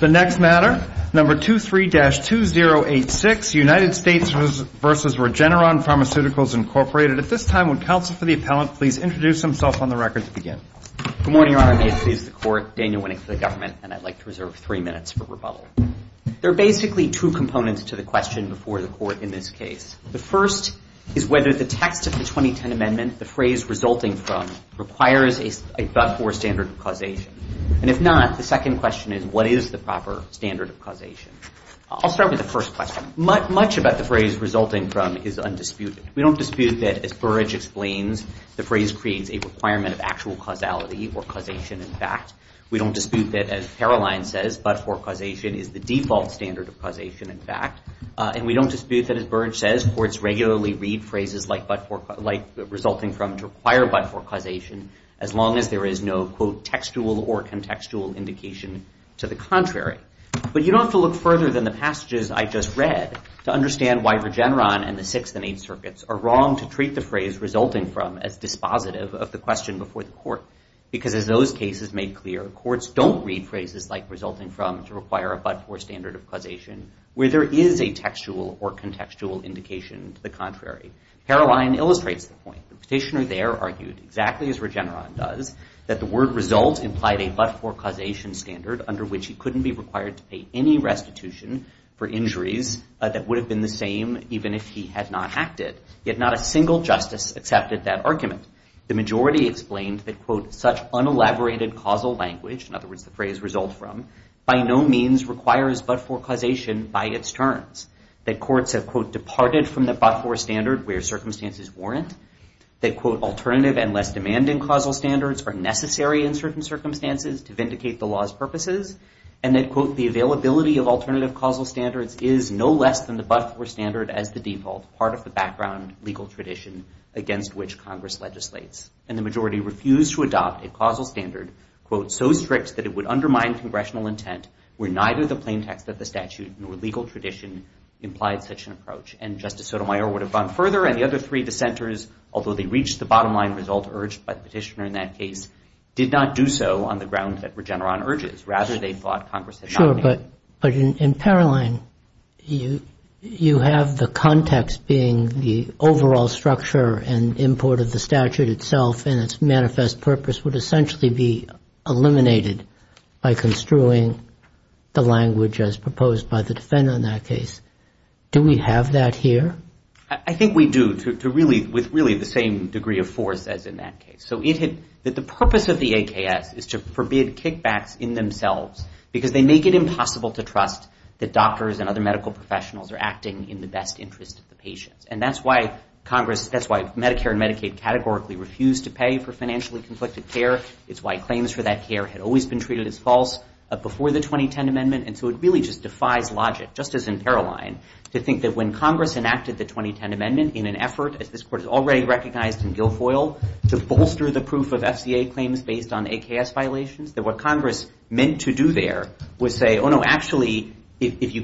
The next matter, number 23-2086, United States versus Regeneron Pharmaceuticals, Incorporated. At this time, would counsel for the appellant please introduce himself on the record to begin? Good morning, Your Honor. I'm the attorney of the court, Daniel Winnick for the government, and I'd like to reserve three minutes for rebuttal. There are basically two components to the question before the court in this case. The first is whether the text of the 2010 amendment, the phrase resulting from, requires a but-for standard causation. And if not, the second question is, what is the proper standard of causation? I'll start with the first question. Much about the phrase resulting from is undisputed. We don't dispute that, as Burrage explains, the phrase creates a requirement of actual causality or causation in fact. We don't dispute that, as Caroline says, but-for causation is the default standard of causation in fact. And we don't dispute that, as Burrage says, courts regularly read phrases like resulting from to require but-for causation as long as there is no, quote, or contextual indication to the contrary. But you don't have to look further than the passages I just read to understand why Regeneron and the Sixth and Eight Circuits are wrong to treat the phrase resulting from as dispositive of the question before the court. Because as those cases made clear, courts don't read phrases like resulting from to require a but-for standard of causation where there is a textual or contextual indication to the contrary. Caroline illustrates the point. The petitioner there argued, exactly as Regeneron does, that the word result implied a but-for causation standard under which he couldn't be required to pay any restitution for injuries that would have been the same even if he had not acted. Yet not a single justice accepted that argument. The majority explained that, quote, such unelaborated causal language, in other words, the phrase result from, by no means requires but-for causation by its terms, that courts have, quote, departed from the but-for standard where circumstances warrant, that, quote, alternative and less demanding causal standards are necessary in certain circumstances to vindicate the law's purposes, and that, quote, the availability of alternative causal standards is no less than the but-for standard as the default, part of the background legal tradition against which Congress legislates. And the majority refused to adopt a causal standard, quote, so strict that it would undermine congressional intent where neither the plain text of the statute nor legal tradition implied such an approach. And Justice Sotomayor would have gone further. And the other three dissenters, although they reached the bottom line result urged by the petitioner in that case, did not do so on the ground that Regeneron urges. Rather, they thought Congress had not made it. Sure, but in Paroline, you have the context being the overall structure and import of the statute itself and its manifest purpose would essentially be eliminated by construing the language as proposed by the defendant in that case. Do we have that here? I think we do, with really the same degree of force as in that case. So the purpose of the AKS is to forbid kickbacks in themselves because they make it impossible to trust that doctors and other medical professionals are acting in the best interest of the patients. And that's why Congress, that's why Medicare and Medicaid categorically refuse to pay for financially conflicted care. It's why claims for that care had always been treated as false before the 2010 Amendment. And so it really just defies logic, just as in Paroline, to think that when Congress enacted the 2010 Amendment in an effort, as this Court has already recognized in Guilfoyle, to bolster the proof of FCA claims based on AKS violations, that what Congress meant to do there was say, oh, no, actually, if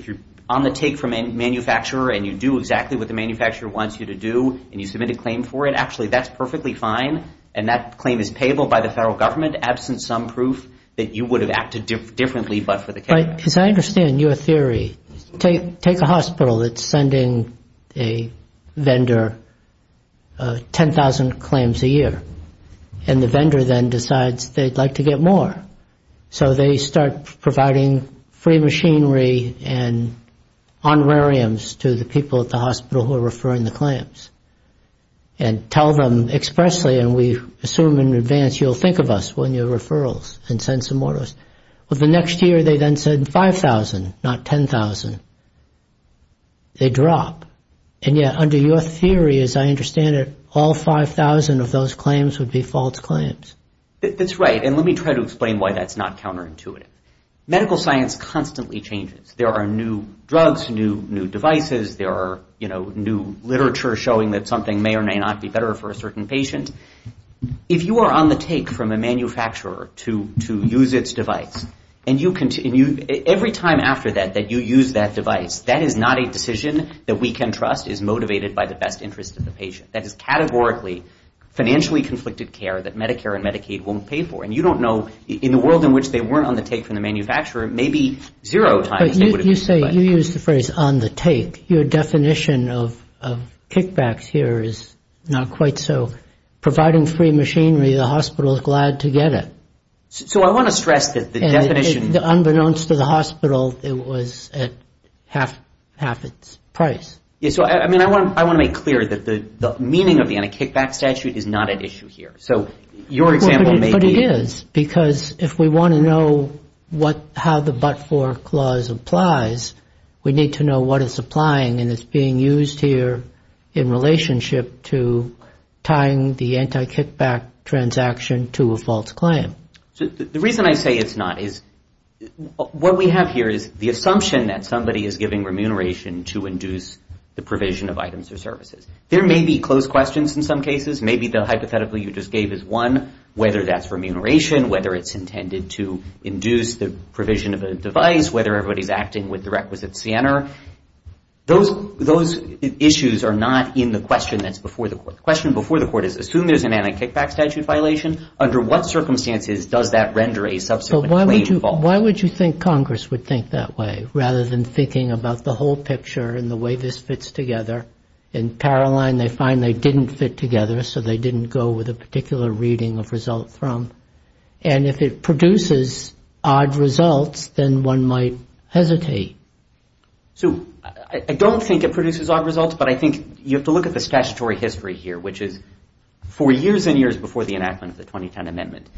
you're on the take from a manufacturer and you do exactly what the manufacturer wants you to do and you submit a claim for it, actually, that's perfectly fine and that claim is payable by the federal government, absent some proof that you would have acted differently but for the care. Because I understand your theory. Take a hospital that's sending a vendor 10,000 claims a year. And the vendor then decides they'd like to get more. So they start providing free machinery and honorariums to the people at the hospital who are referring the claims. And tell them expressly, and we assume in advance you'll think of us when your referrals and send some more. Well, the next year, they then said 5,000, not 10,000. They drop. And yet, under your theory, as I understand it, all 5,000 of those claims would be false claims. That's right. And let me try to explain why that's not counterintuitive. Medical science constantly changes. There are new drugs, new devices. There are new literature showing that something may or may not be better for a certain patient. If you are on the take from a manufacturer to use its device, and every time after that, that you use that device, that is not a decision that we can trust is motivated by the best interest of the patient. That is categorically financially conflicted care that Medicare and Medicaid won't pay for. And you don't know, in the world in which they weren't on the take from the manufacturer, maybe zero times they would have been. You say, you use the phrase on the take. Your definition of kickbacks here is not quite so. Providing free machinery, the hospital is glad to get it. So I want to stress that the definition is not Unbeknownst to the hospital, it was at half its price. So I want to make clear that the meaning of the anti-kickback statute is not at issue here. So your example may be But it is. Because if we want to know how the but-for clause applies, we need to know what is applying. And it's being used here in relationship to tying the anti-kickback transaction to a false claim. So the reason I say it's not is, what we have here is the assumption that somebody is giving remuneration to induce the provision of items or services. There may be close questions in some cases. Maybe the hypothetical you just gave is one, whether that's remuneration, whether it's intended to induce the provision of a device, whether everybody's acting with the requisite CNR. Those issues are not in the question that's before the court. The question before the court is, assume there's an anti-kickback statute violation. Under what circumstances does that render a subsequent claim false? Why would you think Congress would think that way, rather than thinking about the whole picture and the way this fits together? In Paroline, they find they didn't fit together, so they didn't go with a particular reading of results from. And if it produces odd results, then one might hesitate. So I don't think it produces odd results, but I think you have to look at the statutory history here, which is four years and years before the enactment of the 2010 amendment.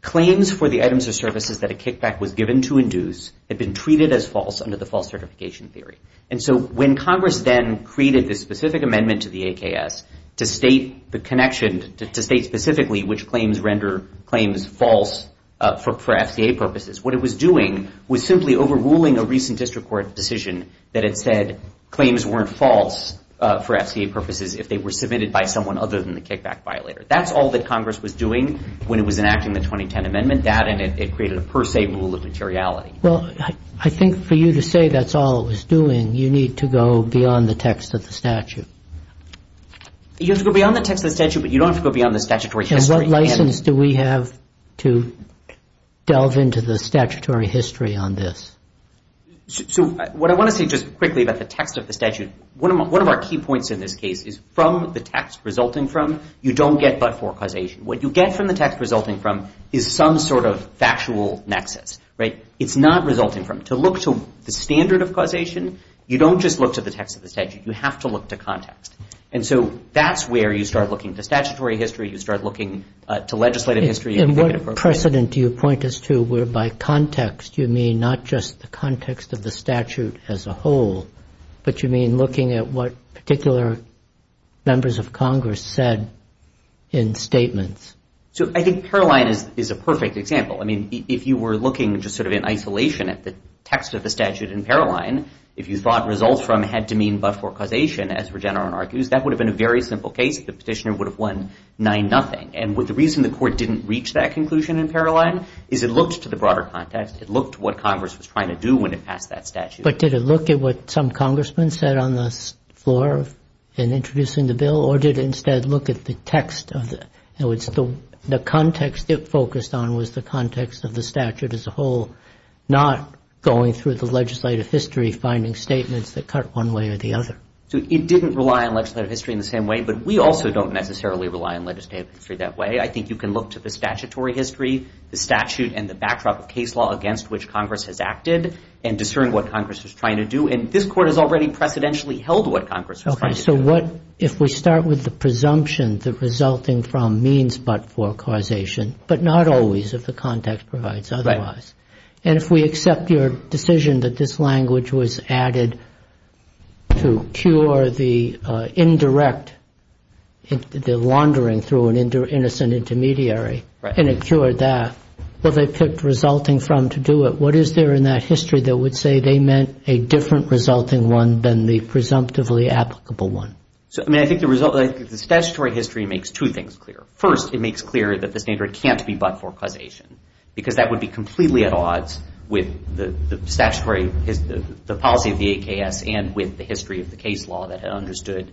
Claims for the items or services that a kickback was given to induce had been treated as false under the false certification theory. And so when Congress then created this specific amendment to the AKS to state the connection, to state specifically which claims render claims false for FCA purposes, what it was doing was simply overruling a recent district court decision that it said claims weren't false for FCA purposes if they were submitted by someone other than the kickback violator. That's all that Congress was doing when it was enacting the 2010 amendment. That, and it created a per se rule of materiality. Well, I think for you to say that's all it was doing, you need to go beyond the text of the statute. You have to go beyond the text of the statute, but you don't have to go beyond the statutory history. And what license do we have to delve into the statutory history on this? So what I want to say just quickly about the text of the statute, one of our key points in this case is from the text resulting from, you don't get but for causation. What you get from the text resulting from is some sort of factual nexus. It's not resulting from. To look to the standard of causation, you don't just look to the text of the statute. You have to look to context. And so that's where you start looking to statutory history, you start looking to legislative history. And what precedent do you point us to whereby context, you mean not just the context of the statute as a whole, but you mean looking at what particular members of Congress said in statements? So I think Paroline is a perfect example. I mean, if you were looking just sort of in isolation at the text of the statute in Paroline, if you thought results from had to mean but for causation, as Regeneron argues, that would have been a very simple case. The petitioner would have won 9-0. And the reason the court didn't reach that conclusion in Paroline is it looked to the broader context. It looked to what Congress was trying to do when it passed that statute. But did it look at what some congressmen said on the floor in introducing the bill, or did it instead look at the text of it? The context it focused on was the context of the statute as a whole, not going through the legislative history, finding statements that cut one way or the other. So it didn't rely on legislative history in the same way, but we also don't necessarily rely on legislative history that way. I think you can look to the statutory history, the statute, and the backdrop of case law against which Congress has acted, and discern what Congress was trying to do. And this court has already precedentially held what Congress was trying to do. If we start with the presumption that resulting from means but for causation, but not always if the context provides otherwise, and if we accept your decision that this language was added to cure the indirect, the laundering through an innocent intermediary and it cured that, what they picked resulting from to do it, what is there in that history that would say they meant a different resulting one than the presumptively applicable one? I mean, I think the result, the statutory history makes two things clear. First, it makes clear that the standard can't be but for causation, because that would be completely at odds with the statutory, the policy of the AKS and with the history of the case law that had understood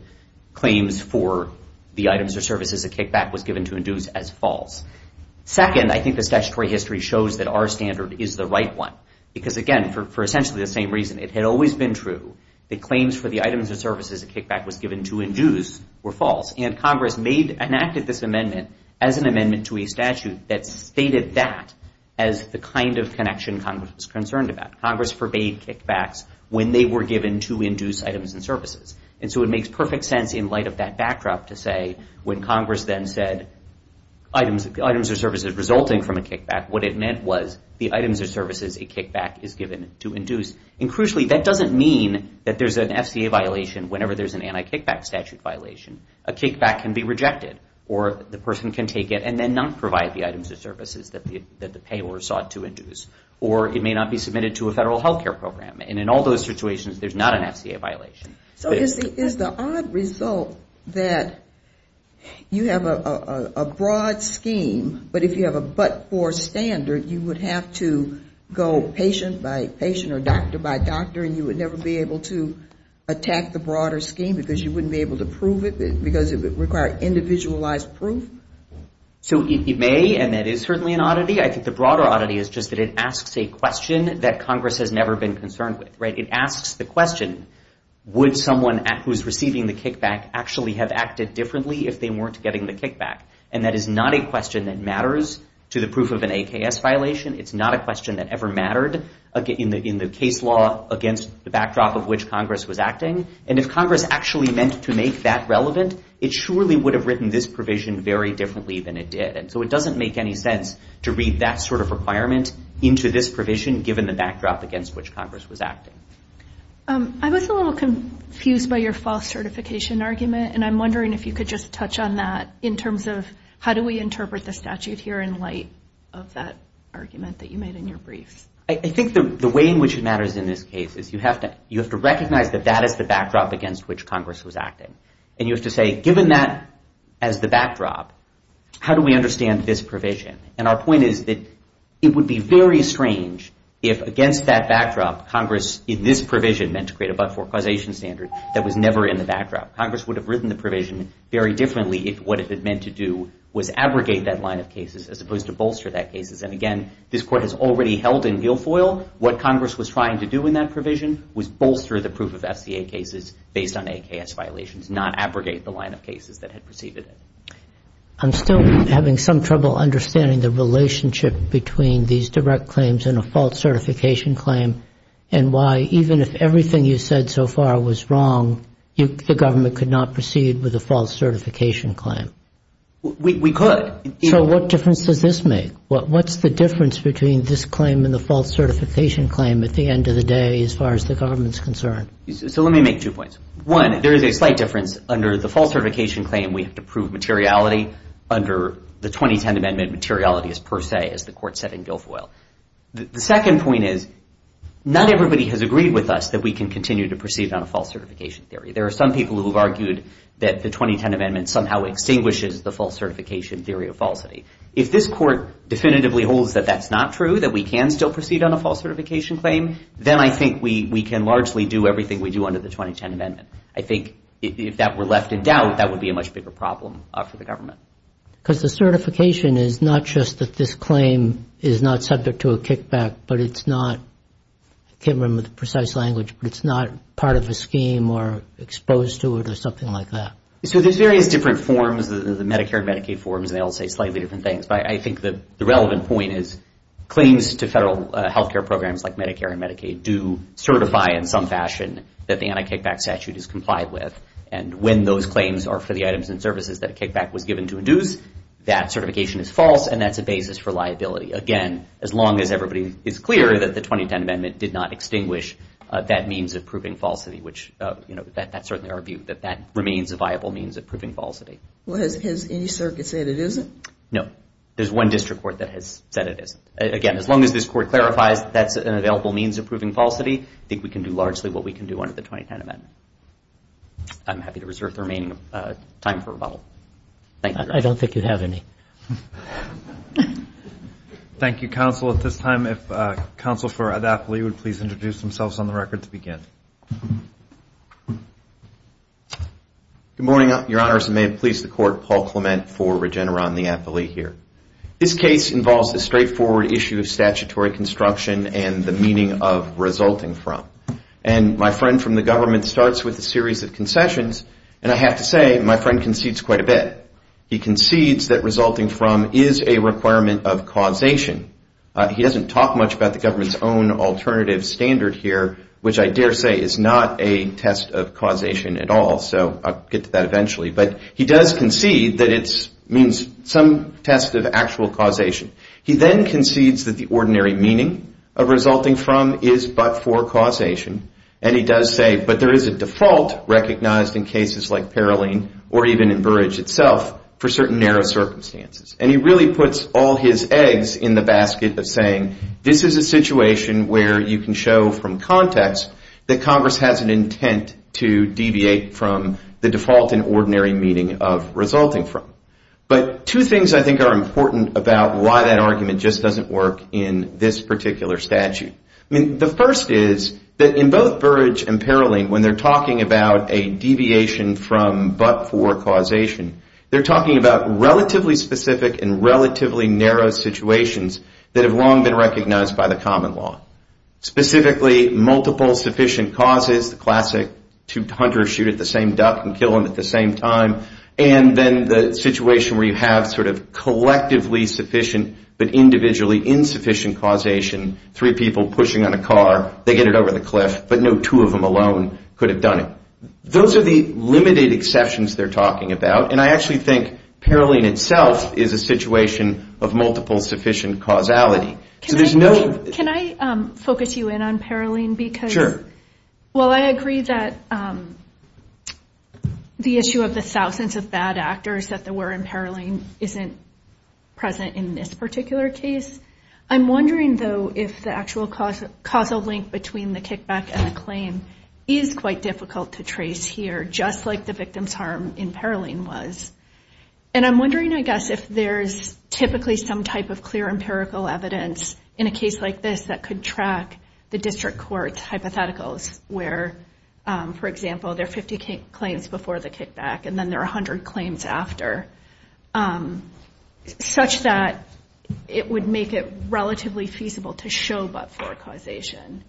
claims for the items or services a kickback was given to induce as false. Second, I think the statutory history shows that our standard is the right one. Because again, for essentially the same reason, it had always been true that claims for the items or services a kickback was given to induce were false. And Congress enacted this amendment as an amendment to a statute that stated that as the kind of connection Congress was concerned about. Congress forbade kickbacks when they were given to induce items and services. And so it makes perfect sense in light of that backdrop to say when Congress then said items or services resulting from a kickback, what it meant was the items or services a kickback is given to induce. And crucially, that doesn't mean that there's an FCA violation whenever there's an anti-kickback statute violation. A kickback can be rejected, or the person can take it and then not provide the items or services that the payors sought to induce. Or it may not be submitted to a federal health care program. And in all those situations, there's not an FCA violation. So is the odd result that you have a broad scheme, but if you have a but-for standard, you would have to go patient by patient or doctor by doctor, and you would never be able to attack the broader scheme because you wouldn't be able to prove it because it would require individualized proof? So it may, and that is certainly an oddity. I think the broader oddity is just that it asks a question that Congress has never been concerned with. It asks the question, would someone who's receiving the kickback actually have acted differently if they weren't getting the kickback? And that is not a question that matters to the proof of an AKS violation. It's not a question that ever mattered in the case law against the backdrop of which Congress was acting. And if Congress actually meant to make that relevant, it surely would have written this provision very differently than it did. And so it doesn't make any sense to read that sort of requirement into this provision, given the backdrop against which Congress was acting. I was a little confused by your false certification argument, and I'm wondering if you could just touch on that in terms of how do we interpret the statute here in light of that argument that you made in your briefs? I think the way in which it matters in this case is you have to recognize that that is the backdrop against which Congress was acting. And you have to say, given that as the backdrop, how do we understand this provision? And our point is that it would be very strange if, against that backdrop, Congress, in this provision, meant to create a but-for-causation standard that was never in the backdrop. Congress would have written the provision very differently if what it had meant to do was abrogate that line of cases as opposed to bolster that cases. And again, this court has already held in gill foil what Congress was trying to do in that provision was bolster the proof of SCA cases based on AKS violations, not abrogate the line of cases that had preceded it. I'm still having some trouble understanding the relationship between these direct claims and a false certification claim and why, even if everything you said so far was wrong, the government could not proceed with a false certification claim. We could. So what difference does this make? What's the difference between this claim and the false certification claim at the end of the day as far as the government's concerned? So let me make two points. One, there is a slight difference under the false certification claim. We have to prove materiality under the 2010 Amendment materiality as per se as the court said in gill foil. The second point is not everybody has agreed with us that we can continue to proceed on a false certification theory. There are some people who have argued that the 2010 Amendment somehow extinguishes the false certification theory of falsity. If this court definitively holds that that's not true, that we can still proceed on a false certification claim, then I think we can largely do everything we do under the 2010 Amendment. I think if that were left in doubt, that would be a much bigger problem for the government. Because the certification is not just that this claim is not subject to a kickback, but it's not, I can't remember the precise language, but it's not part of a scheme or exposed to it or something like that. So there's various different forms, the Medicare and Medicaid forms, and they all say slightly different things. But I think that the relevant point is claims to federal health care programs like Medicare and Medicaid do certify in some fashion that the anti-kickback statute is complied with. And when those claims are for the items and services that a kickback was given to induce, that certification is false, and that's a basis for liability. Again, as long as everybody is clear that the 2010 Amendment did not extinguish that means of proving falsity, which that's certainly our view, that that remains a viable means of proving falsity. Well, has any circuit said it isn't? No. There's one district court that has said it isn't. Again, as long as this court clarifies that's an available means of proving falsity, I think we can do largely what we can do under the 2010 Amendment. I'm happy to reserve the remaining time for rebuttal. I don't think you have any. Thank you, counsel. At this time, if counsel for the athlete would please introduce themselves on the record to begin. Good morning, your honors. And may it please the court, Paul Clement for Regeneron, the athlete here. This case involves the straightforward issue of statutory construction and the meaning of resulting from. And my friend from the government starts with a series of concessions. And I have to say, my friend concedes quite a bit. He concedes that resulting from is a requirement of causation. He doesn't talk much about the government's own alternative standard here, which I dare say is not a test of causation at all. So I'll get to that eventually. But he does concede that it means some test of actual causation. He then concedes that the ordinary meaning of resulting from is but for causation. And he does say, but there is a default recognized in cases like Peroline or even in Burrage itself for certain narrow circumstances. And he really puts all his eggs in the basket of saying, this is a situation where you can show from context that Congress has an intent to deviate from the default in ordinary meaning of resulting from. But two things I think are important about why that argument just doesn't work in this particular statute. The first is that in both Burrage and Peroline, when they're talking about a deviation from but for causation, they're talking about relatively specific and relatively narrow situations that have long been recognized by the common law. Specifically, multiple sufficient causes, the classic two hunters shoot at the same duck and kill them at the same time. And then the situation where you have collectively sufficient but individually insufficient causation, three people pushing on a car, they get it over the cliff, but no two of them alone could have done it. Those are the limited exceptions they're talking about. And I actually think Peroline itself is a situation of multiple sufficient causality. Can I focus you in on Peroline? Sure. Well, I agree that the issue of the thousands of bad actors that there were in Peroline isn't present in this particular case. I'm wondering, though, if the actual causal link between the kickback and the claim is quite difficult to trace here, just like the victim's harm in Peroline was. And I'm wondering, I guess, if there's typically some type of clear empirical evidence in a case like this that could track the district court hypotheticals where, for example, there are 50 claims before the kickback and then there are 100 claims after, such that it would make it relatively feasible to show but-for causation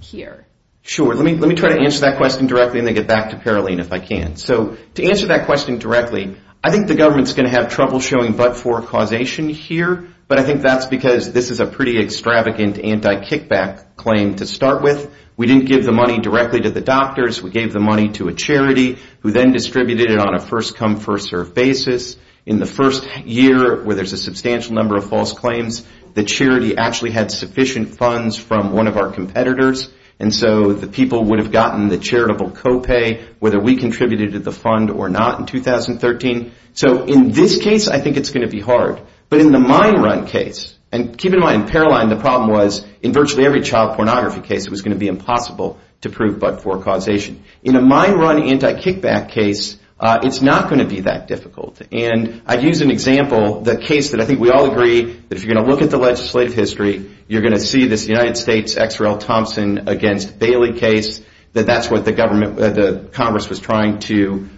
here. Sure, let me try to answer that question directly and then get back to Peroline if I can. So to answer that question directly, I think the government's going to have trouble showing but-for causation here, but I think that's because this is a pretty extravagant anti-kickback claim to start with. We didn't give the money directly to the doctors. We gave the money to a charity who then distributed it on a first-come, first-served basis. In the first year, where there's a substantial number of false claims, the charity actually had sufficient funds from one of our competitors, and so the people would have gotten the charitable co-pay whether we contributed to the fund or not in 2013. So in this case, I think it's going to be hard. But in the mine run case, and keep in mind, in Peroline, the problem was in virtually every child pornography case, it was going to be impossible to prove but-for causation. In a mine run anti-kickback case, it's not going to be that difficult. And I use an example, the case that I think we all agree that if you're going to look at the legislative history, you're going to see this United States XRL Thompson against Bailey case, that that's what the Congress was trying to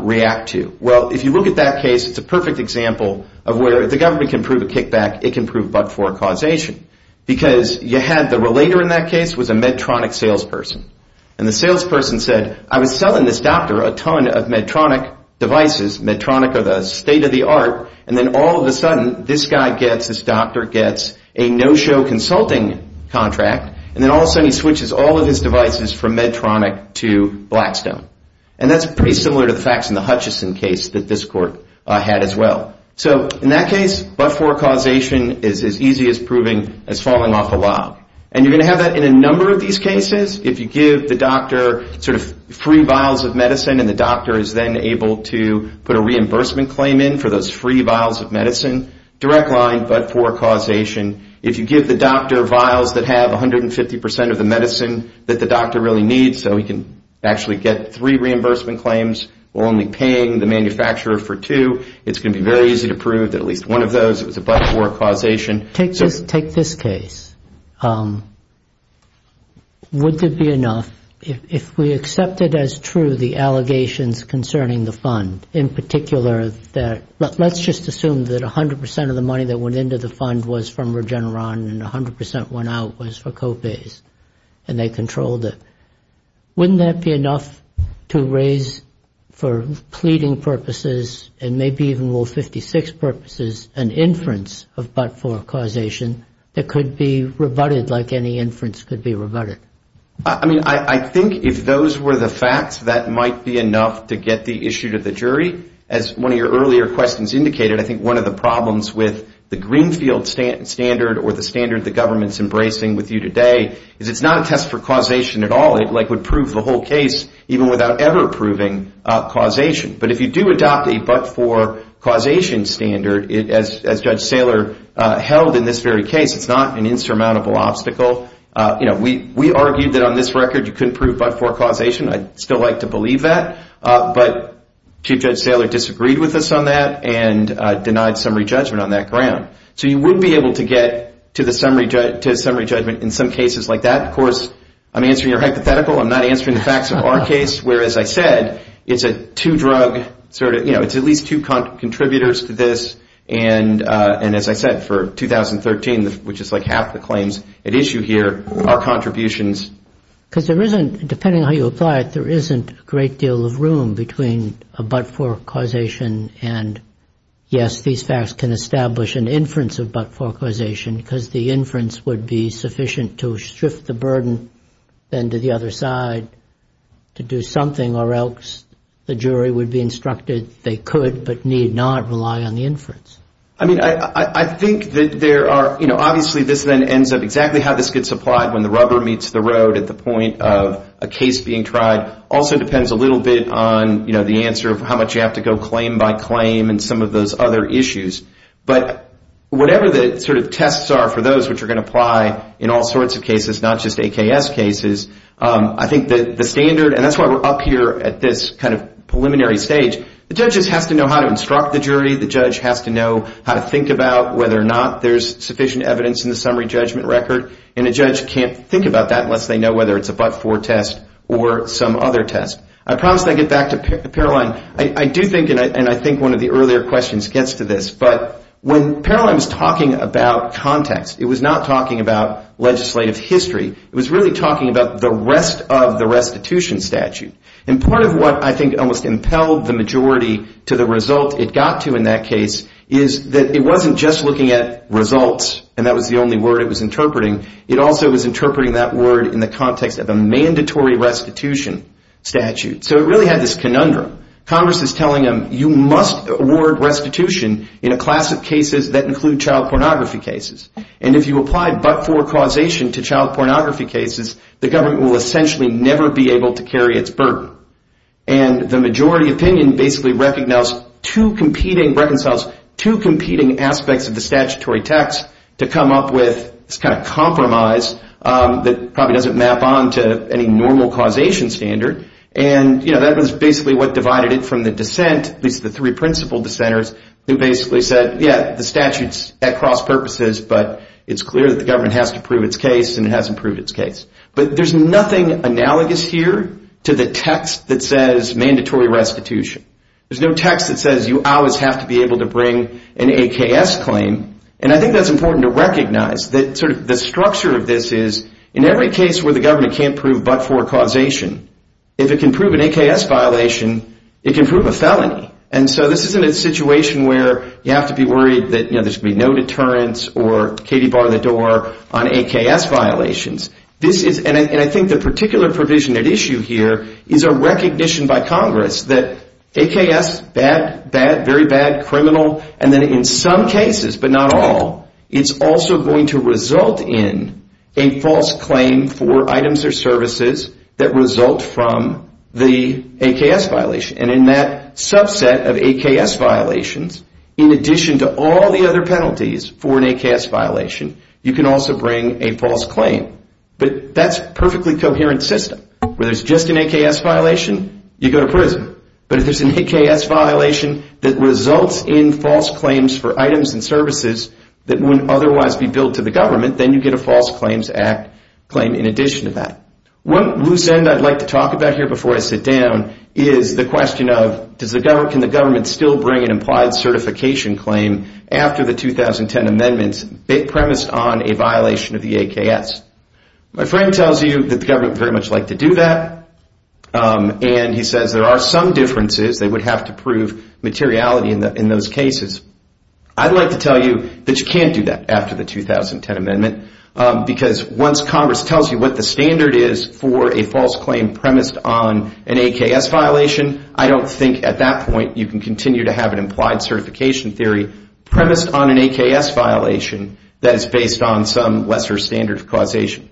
react to. Well, if you look at that case, it's a perfect example of where if the government can prove a kickback, it can prove but-for causation, because you had the relator in that case was a Medtronic salesperson. And the salesperson said, I was selling this doctor a ton of Medtronic devices, Medtronic of the state of the art. And then all of a sudden, this guy gets, this doctor gets a no-show consulting contract. And then all of a sudden, he switches all of his devices from Medtronic to Blackstone. And that's pretty similar to the facts in the Hutchison case that this court had as well. So in that case, but-for causation is as easy as proving as falling off a log. And you're going to have that in a number of these cases. If you give the doctor sort of free vials of medicine, and the doctor is then able to put a reimbursement claim in for those free vials of medicine, direct line, but-for causation. If you give the doctor vials that have 150% of the medicine that the doctor really needs so he can actually get three reimbursement claims while only paying the manufacturer for two, it's going to be very easy to prove that at least one of those was a but-for causation. Take this case. Would it be enough if we accepted as true the allegations concerning the fund, in particular, that let's just assume that 100% of the money that went into the fund was from Regeneron, and 100% went out was for Copays, and they controlled it. Wouldn't that be enough to raise for pleading purposes, and maybe even Rule 56 purposes, an inference of but-for causation that could be rebutted like any inference could be rebutted? I mean, I think if those were the facts, that might be enough to get the issue to the jury. As one of your earlier questions indicated, I think one of the problems with the Greenfield standard or the standard the government's embracing with you today is it's not a test for causation at all. It would prove the whole case even without ever proving causation. But if you do adopt a but-for causation standard, as Judge Saylor held in this very case, it's not an insurmountable obstacle. We argued that on this record, you couldn't prove but-for causation. I'd still like to believe that. But Chief Judge Saylor disagreed with us on that and denied summary judgment on that ground. So you would be able to get to the summary judgment in some cases like that. Of course, I'm answering your hypothetical. I'm not answering the facts of our case, where, as I said, it's a two-drug sort of, you know, And as I said, for 2013, which is like half the claims at issue here, our contributions. Because there isn't, depending on how you apply it, there isn't a great deal of room between a but-for causation and, yes, these facts can establish an inference of but-for causation, because the inference would be sufficient to shift the burden then to the other side to do something, or else the jury would be instructed they could but need not rely on the inference. I mean, I think that there are, you know, obviously this then ends up exactly how this gets applied when the rubber meets the road at the point of a case being tried also depends a little bit on, you know, the answer of how much you have to go claim by claim and some of those other issues. But whatever the sort of tests are for those which are going to apply in all sorts of cases, not just AKS cases, I think that the standard, and that's why we're up here at this kind of preliminary stage, the judge has to know how to instruct the jury. The judge has to know how to think about whether or not there's sufficient evidence in the summary judgment record. And a judge can't think about that unless they know whether it's a but-for test or some other test. I promise I get back to Paroline. I do think, and I think one of the earlier questions gets to this, but when Paroline was talking about context, it was not talking about legislative history. It was really talking about the rest of the restitution statute. And part of what I think almost impelled the majority to the result it got to in that case is that it wasn't just looking at results, and that was the only word it was interpreting. It also was interpreting that word in the context of a mandatory restitution statute. So it really had this conundrum. Congress is telling them, you must award restitution in a class of cases that include child pornography cases. And if you apply but-for causation to child pornography cases, the government will essentially never be able to carry its burden. And the majority opinion basically recognized two competing aspects of the statutory text to come up with this kind of compromise that probably doesn't map on to any normal causation standard. And that was basically what divided it from the dissent, at least the three principal dissenters, who basically said, yeah, the statute's at cross purposes, but it's clear that the government has to prove its case and it hasn't proved its case. But there's nothing analogous here to the text that says mandatory restitution. There's no text that says you always have to be able to bring an AKS claim. And I think that's important to recognize that the structure of this is, in every case where the government can't prove but-for causation, if it can prove an AKS violation, it can prove a felony. And so this isn't a situation where you have to be worried that there's going to be no deterrence or Katie barred the door on AKS violations. And I think the particular provision at issue here is a recognition by Congress that AKS, bad, bad, very bad, criminal, and then in some cases, but not all, it's also going to result in a false claim for items or services that result from the AKS violation. And in that subset of AKS violations, in addition to all the other penalties for an AKS violation, you can also bring a false claim. But that's a perfectly coherent system. Where there's just an AKS violation, you go to prison. But if there's an AKS violation that results in false claims for items and services that wouldn't otherwise be billed to the government, then you get a False Claims Act claim in addition to that. One loose end I'd like to talk about here before I sit down is the question of, can the government still bring an implied certification claim after the 2010 amendments premised on a violation of the AKS? My friend tells you that the government would very much like to do that. And he says there are some differences. They would have to prove materiality in those cases. I'd like to tell you that you can't do that after the 2010 amendment. Because once Congress tells you what the standard is for a false claim premised on an AKS violation, I don't think at that point you can continue to have an implied certification theory premised on an AKS violation that is based on some lesser standard of causation.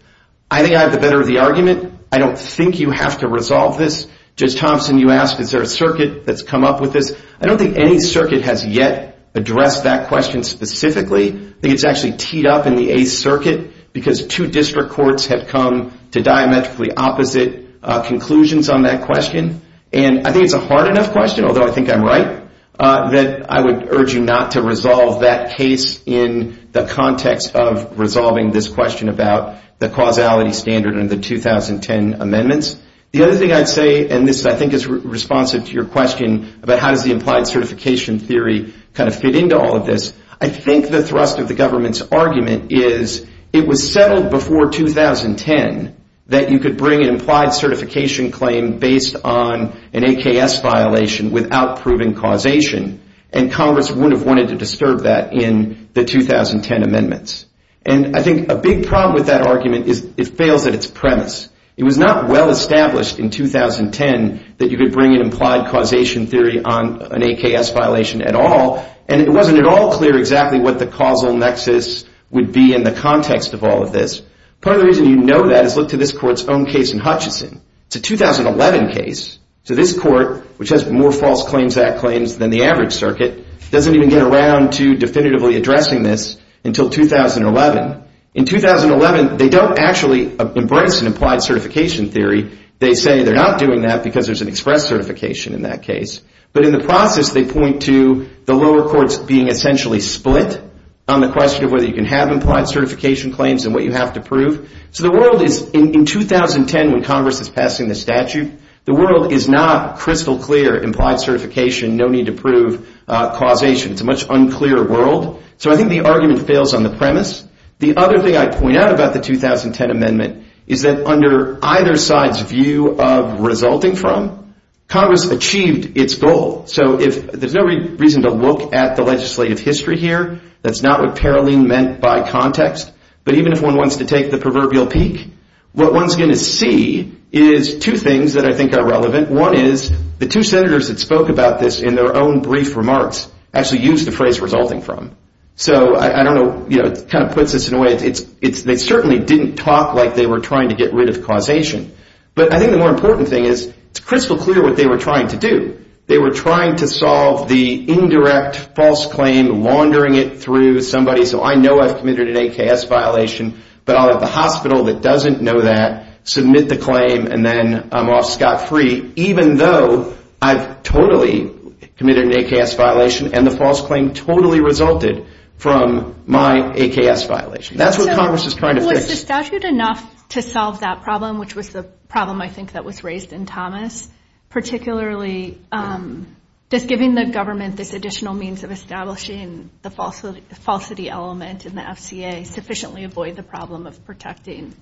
I think I have the better of the argument. I don't think you have to resolve this. Judge Thompson, you asked, is there a circuit that's come up with this? I don't think any circuit has yet addressed that question specifically. I think it's actually teed up in the 8th Circuit because two district courts have come to diametrically opposite conclusions on that question. And I think it's a hard enough question, although I think I'm right, that I would urge you not to resolve that case in the context of resolving this question about the causality standard and the 2010 amendments. The other thing I'd say, and this I think is responsive to your question about how does the implied certification theory fit into all of this, I think the thrust of the government's argument is it was settled before 2010 that you could bring an implied certification claim based on an AKS violation without proving causation. And Congress wouldn't have wanted to disturb that in the 2010 amendments. And I think a big problem with that argument is it fails at its premise. It was not well established in 2010 that you could bring an implied causation theory on an AKS violation at all. And it wasn't at all clear exactly what the causal nexus would be in the context of all of this. Part of the reason you know that is look to this court's own case in Hutchison. It's a 2011 case. So this court, which has more False Claims Act claims than the average circuit, doesn't even get around to definitively addressing this until 2011. In 2011, they don't actually embrace an implied certification theory. They say they're not doing that because there's an express certification in that case. But in the process, they point to the lower courts being essentially split on the question of whether you can have implied certification claims and what you have to prove. So the world is, in 2010 when Congress is passing the statute, the world is not crystal clear implied certification, no need to prove causation. It's a much unclear world. So I think the argument fails on the premise. The other thing I'd point out about the 2010 amendment is that under either side's view of resulting from, Congress achieved its goal. So there's no reason to look at the legislative history here. That's not what Paroline meant by context. But even if one wants to take the proverbial peak, what one's going to see is two things that I think are relevant. One is, the two senators that spoke about this in their own brief remarks actually used the phrase resulting from. So I don't know, it kind of puts this in a way, they certainly didn't talk like they were trying to get rid of causation. But I think the more important thing is, it's crystal clear what they were trying to do. They were trying to solve the indirect false claim, laundering it through somebody. So I know I've committed an AKS violation, but I'll have the hospital that doesn't know that submit the claim and then I'm off scot-free, even though I've totally committed an AKS violation and the false claim totally resulted from my AKS violation. That's what Congress is trying to fix. Was the statute enough to solve that problem, which was the problem I think that was raised in Thomas? Particularly, does giving the government this additional means of establishing the falsity element in the FCA sufficiently avoid the problem of protecting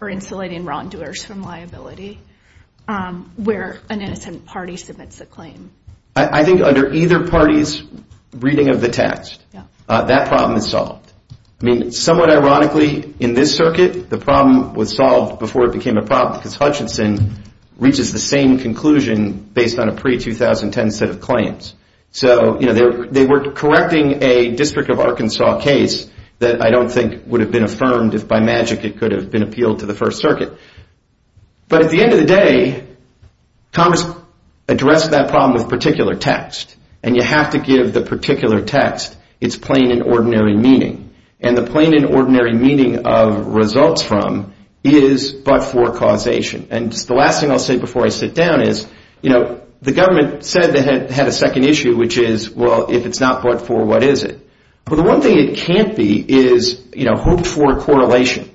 or insulating wrongdoers from liability where an innocent party submits a claim? I think under either party's reading of the text, that problem is solved. I mean, somewhat ironically, in this circuit, the problem was solved before it became a problem because Hutchinson reaches the same conclusion based on a pre-2010 set of claims. So they were correcting a District of Arkansas case that I don't think would have been affirmed if by magic it could have been appealed to the First Circuit. But at the end of the day, Congress addressed that problem with particular text and you have to give the particular text its plain and ordinary meaning. And the plain and ordinary meaning of results from is but-for causation. And the last thing I'll say before I sit down is, the government said they had a second issue, which is, well, if it's not but-for, what is it? Well, the one thing it can't be is hoped-for correlation.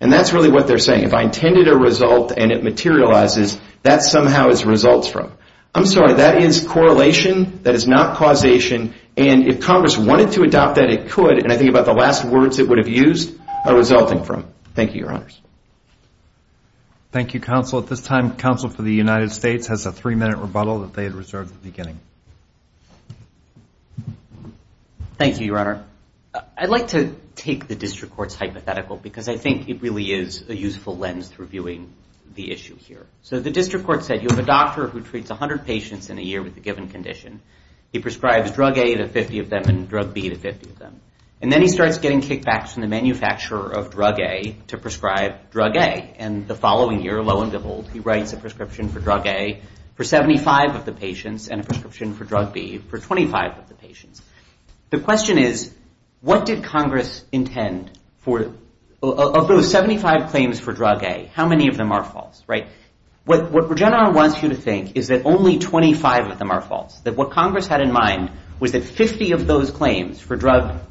And that's really what they're saying. If I intended a result and it materializes, that somehow is results from. I'm sorry, that is correlation. That is not causation. And if Congress wanted to adopt that, it could, and I think about the last words it would have used, are resulting from. Thank you, Your Honors. Thank you, Counsel. At this time, Counsel for the United States has a three-minute rebuttal that they had reserved at the beginning. Thank you, Your Honor. I'd like to take the district court's hypothetical because I think it really is a useful lens through viewing the issue here. So the district court said, you have a doctor who treats 100 patients in a year with a given condition. He prescribes drug A to 50 of them and drug B to 50 of them. And then he starts getting kickbacks from the manufacturer of drug A to prescribe drug A. And the following year, lo and behold, he writes a prescription for drug A for 75 of the patients and a prescription for 50. And then he writes a prescription for drug B for 25 of the patients. The question is, what did Congress intend for, of those 75 claims for drug A, how many of them are false, right? What Regeneron wants you to think is that only 25 of them are false, that what Congress had in mind was that 50 of those claims for drug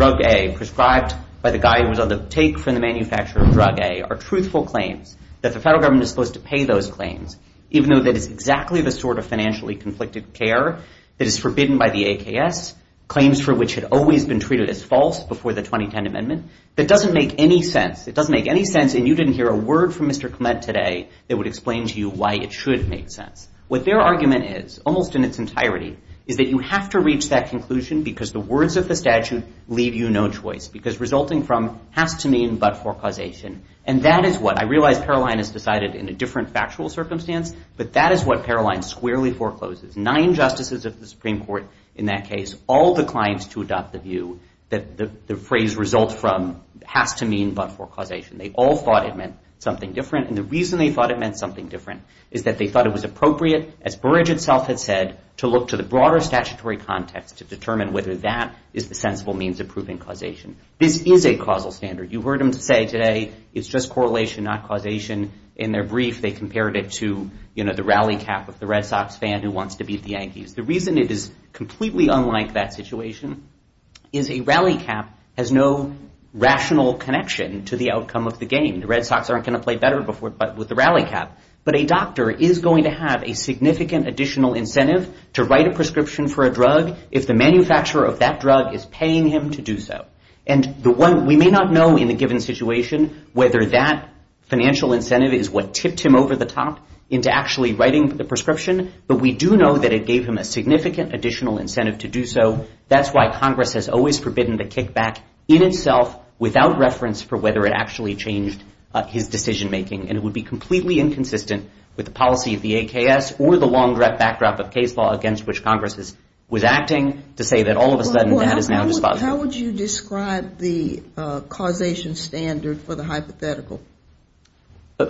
A prescribed by the guy who was on the take from the manufacturer of drug A are truthful claims that the federal government is supposed to pay those claims even though that is exactly the sort of financially conflicted care that is forbidden by the AKS, claims for which had always been treated as false before the 2010 amendment, that doesn't make any sense. It doesn't make any sense and you didn't hear a word from Mr. Clement today that would explain to you why it should make sense. What their argument is, almost in its entirety, is that you have to reach that conclusion because the words of the statute leave you no choice because resulting from has to mean but for causation. And that is what, I realize Paroline has decided in a different factual circumstance, but that is what Paroline squarely forecloses. Nine justices of the Supreme Court, in that case, all declined to adopt the view that the phrase result from has to mean but for causation. They all thought it meant something different and the reason they thought it meant something different is that they thought it was appropriate, as Burrage itself had said, to look to the broader statutory context to determine whether that is the sensible means of proving causation. This is a causal standard. You heard him say today, it's just correlation, not causation. In their brief, they compared it to the rally cap of the Red Sox fan who wants to beat the Yankees. The reason it is completely unlike that situation is a rally cap has no rational connection to the outcome of the game. The Red Sox aren't gonna play better with the rally cap, but a doctor is going to have a significant additional incentive to write a prescription for a drug if the manufacturer of that drug is paying him to do so. And we may not know in the given situation whether that financial incentive is what tipped him over the top into actually writing the prescription, but we do know that it gave him a significant additional incentive to do so. That's why Congress has always forbidden the kickback in itself without reference for whether it actually changed his decision making. And it would be completely inconsistent with the policy of the AKS or the long direct backdrop of case law against which Congress was acting to say that all of a sudden that is now dispositive. How would you describe the causation standard for the hypothetical?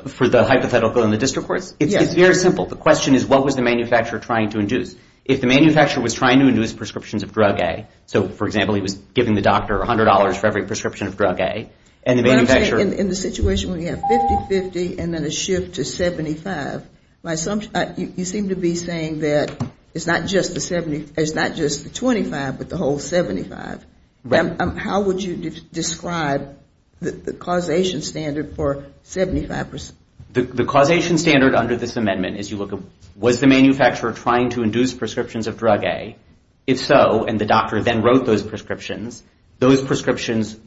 For the hypothetical in the district courts? It's very simple. The question is what was the manufacturer trying to induce? If the manufacturer was trying to induce prescriptions of drug A, so for example, he was giving the doctor $100 for every prescription of drug A, and the manufacturer- In the situation where you have 50-50 and then a shift to 75, you seem to be saying that it's not just the 75, it's not just the 25, but the whole 75. How would you describe the causation standard for 75%? The causation standard under this amendment is you look at was the manufacturer trying to induce prescriptions of drug A? If so, and the doctor then wrote those prescriptions, those prescriptions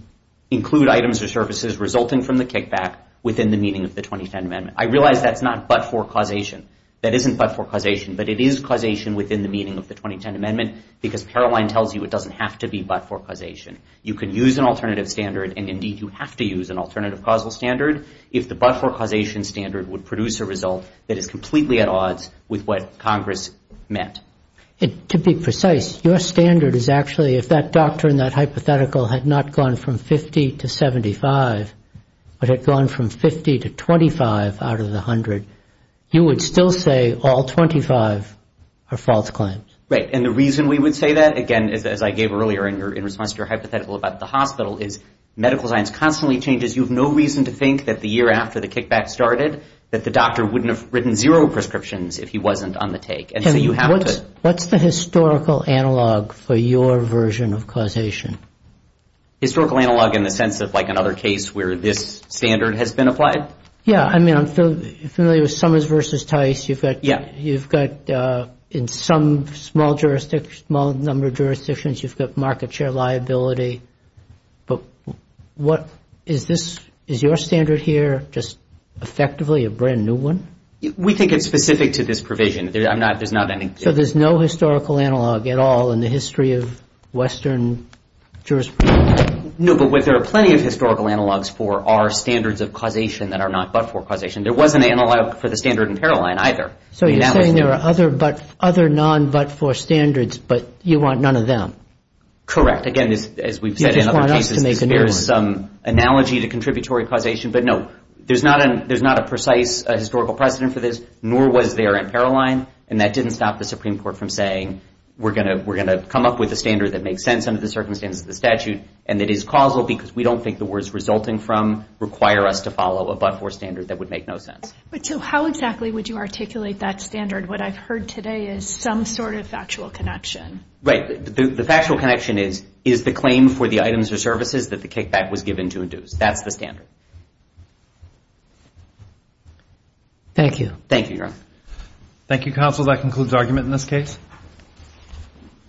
include items or services resulting from the kickback within the meaning of the 2010 amendment. I realize that's not but-for causation. That isn't but-for causation, but it is causation within the meaning of the 2010 amendment because Caroline tells you it doesn't have to be but-for causation. You can use an alternative standard, and indeed you have to use an alternative causal standard if the but-for causation standard would produce a result that is completely at odds with what Congress meant. To be precise, your standard is actually if that doctor in that hypothetical had not gone from 50 to 75, but had gone from 50 to 25 out of the 100, you would still say all 25 are false claims. Right, and the reason we would say that, again, as I gave earlier in response to your hypothetical about the hospital, is medical science constantly changes. You have no reason to think that the year after the kickback started that the doctor wouldn't have written zero prescriptions if he wasn't on the take, and so you have to. What's the historical analog for your version of causation? Historical analog in the sense of like another case where this standard has been applied? Yeah, I mean, I'm familiar with Summers versus Tice. You've got in some small jurisdiction, small number of jurisdictions. You've got market share liability, but what is this, is your standard here just effectively a brand new one? We think it's specific to this provision. I'm not, there's not any. So there's no historical analog at all in the history of Western jurisprudence? No, but there are plenty of historical analogs for our standards of causation that are not but-for causation. There was an analog for the standard in Paroline either. So you're saying there are other but, other non-but-for standards, but you want none of them? Correct, again, as we've said in other cases, there's some analogy to contributory causation, but no, there's not a precise historical precedent for this, nor was there in Paroline, and that didn't stop the Supreme Court from saying, we're gonna come up with a standard that makes sense under the circumstances of the statute, and that is causal because we don't think the words resulting from require us to follow a but-for standard that would make no sense. But so how exactly would you articulate that standard? What I've heard today is some sort of factual connection. Right, the factual connection is, is the claim for the items or services that the kickback was given to induce. That's the standard. Thank you. Thank you, Your Honor. Thank you, counsel. That concludes argument in this case.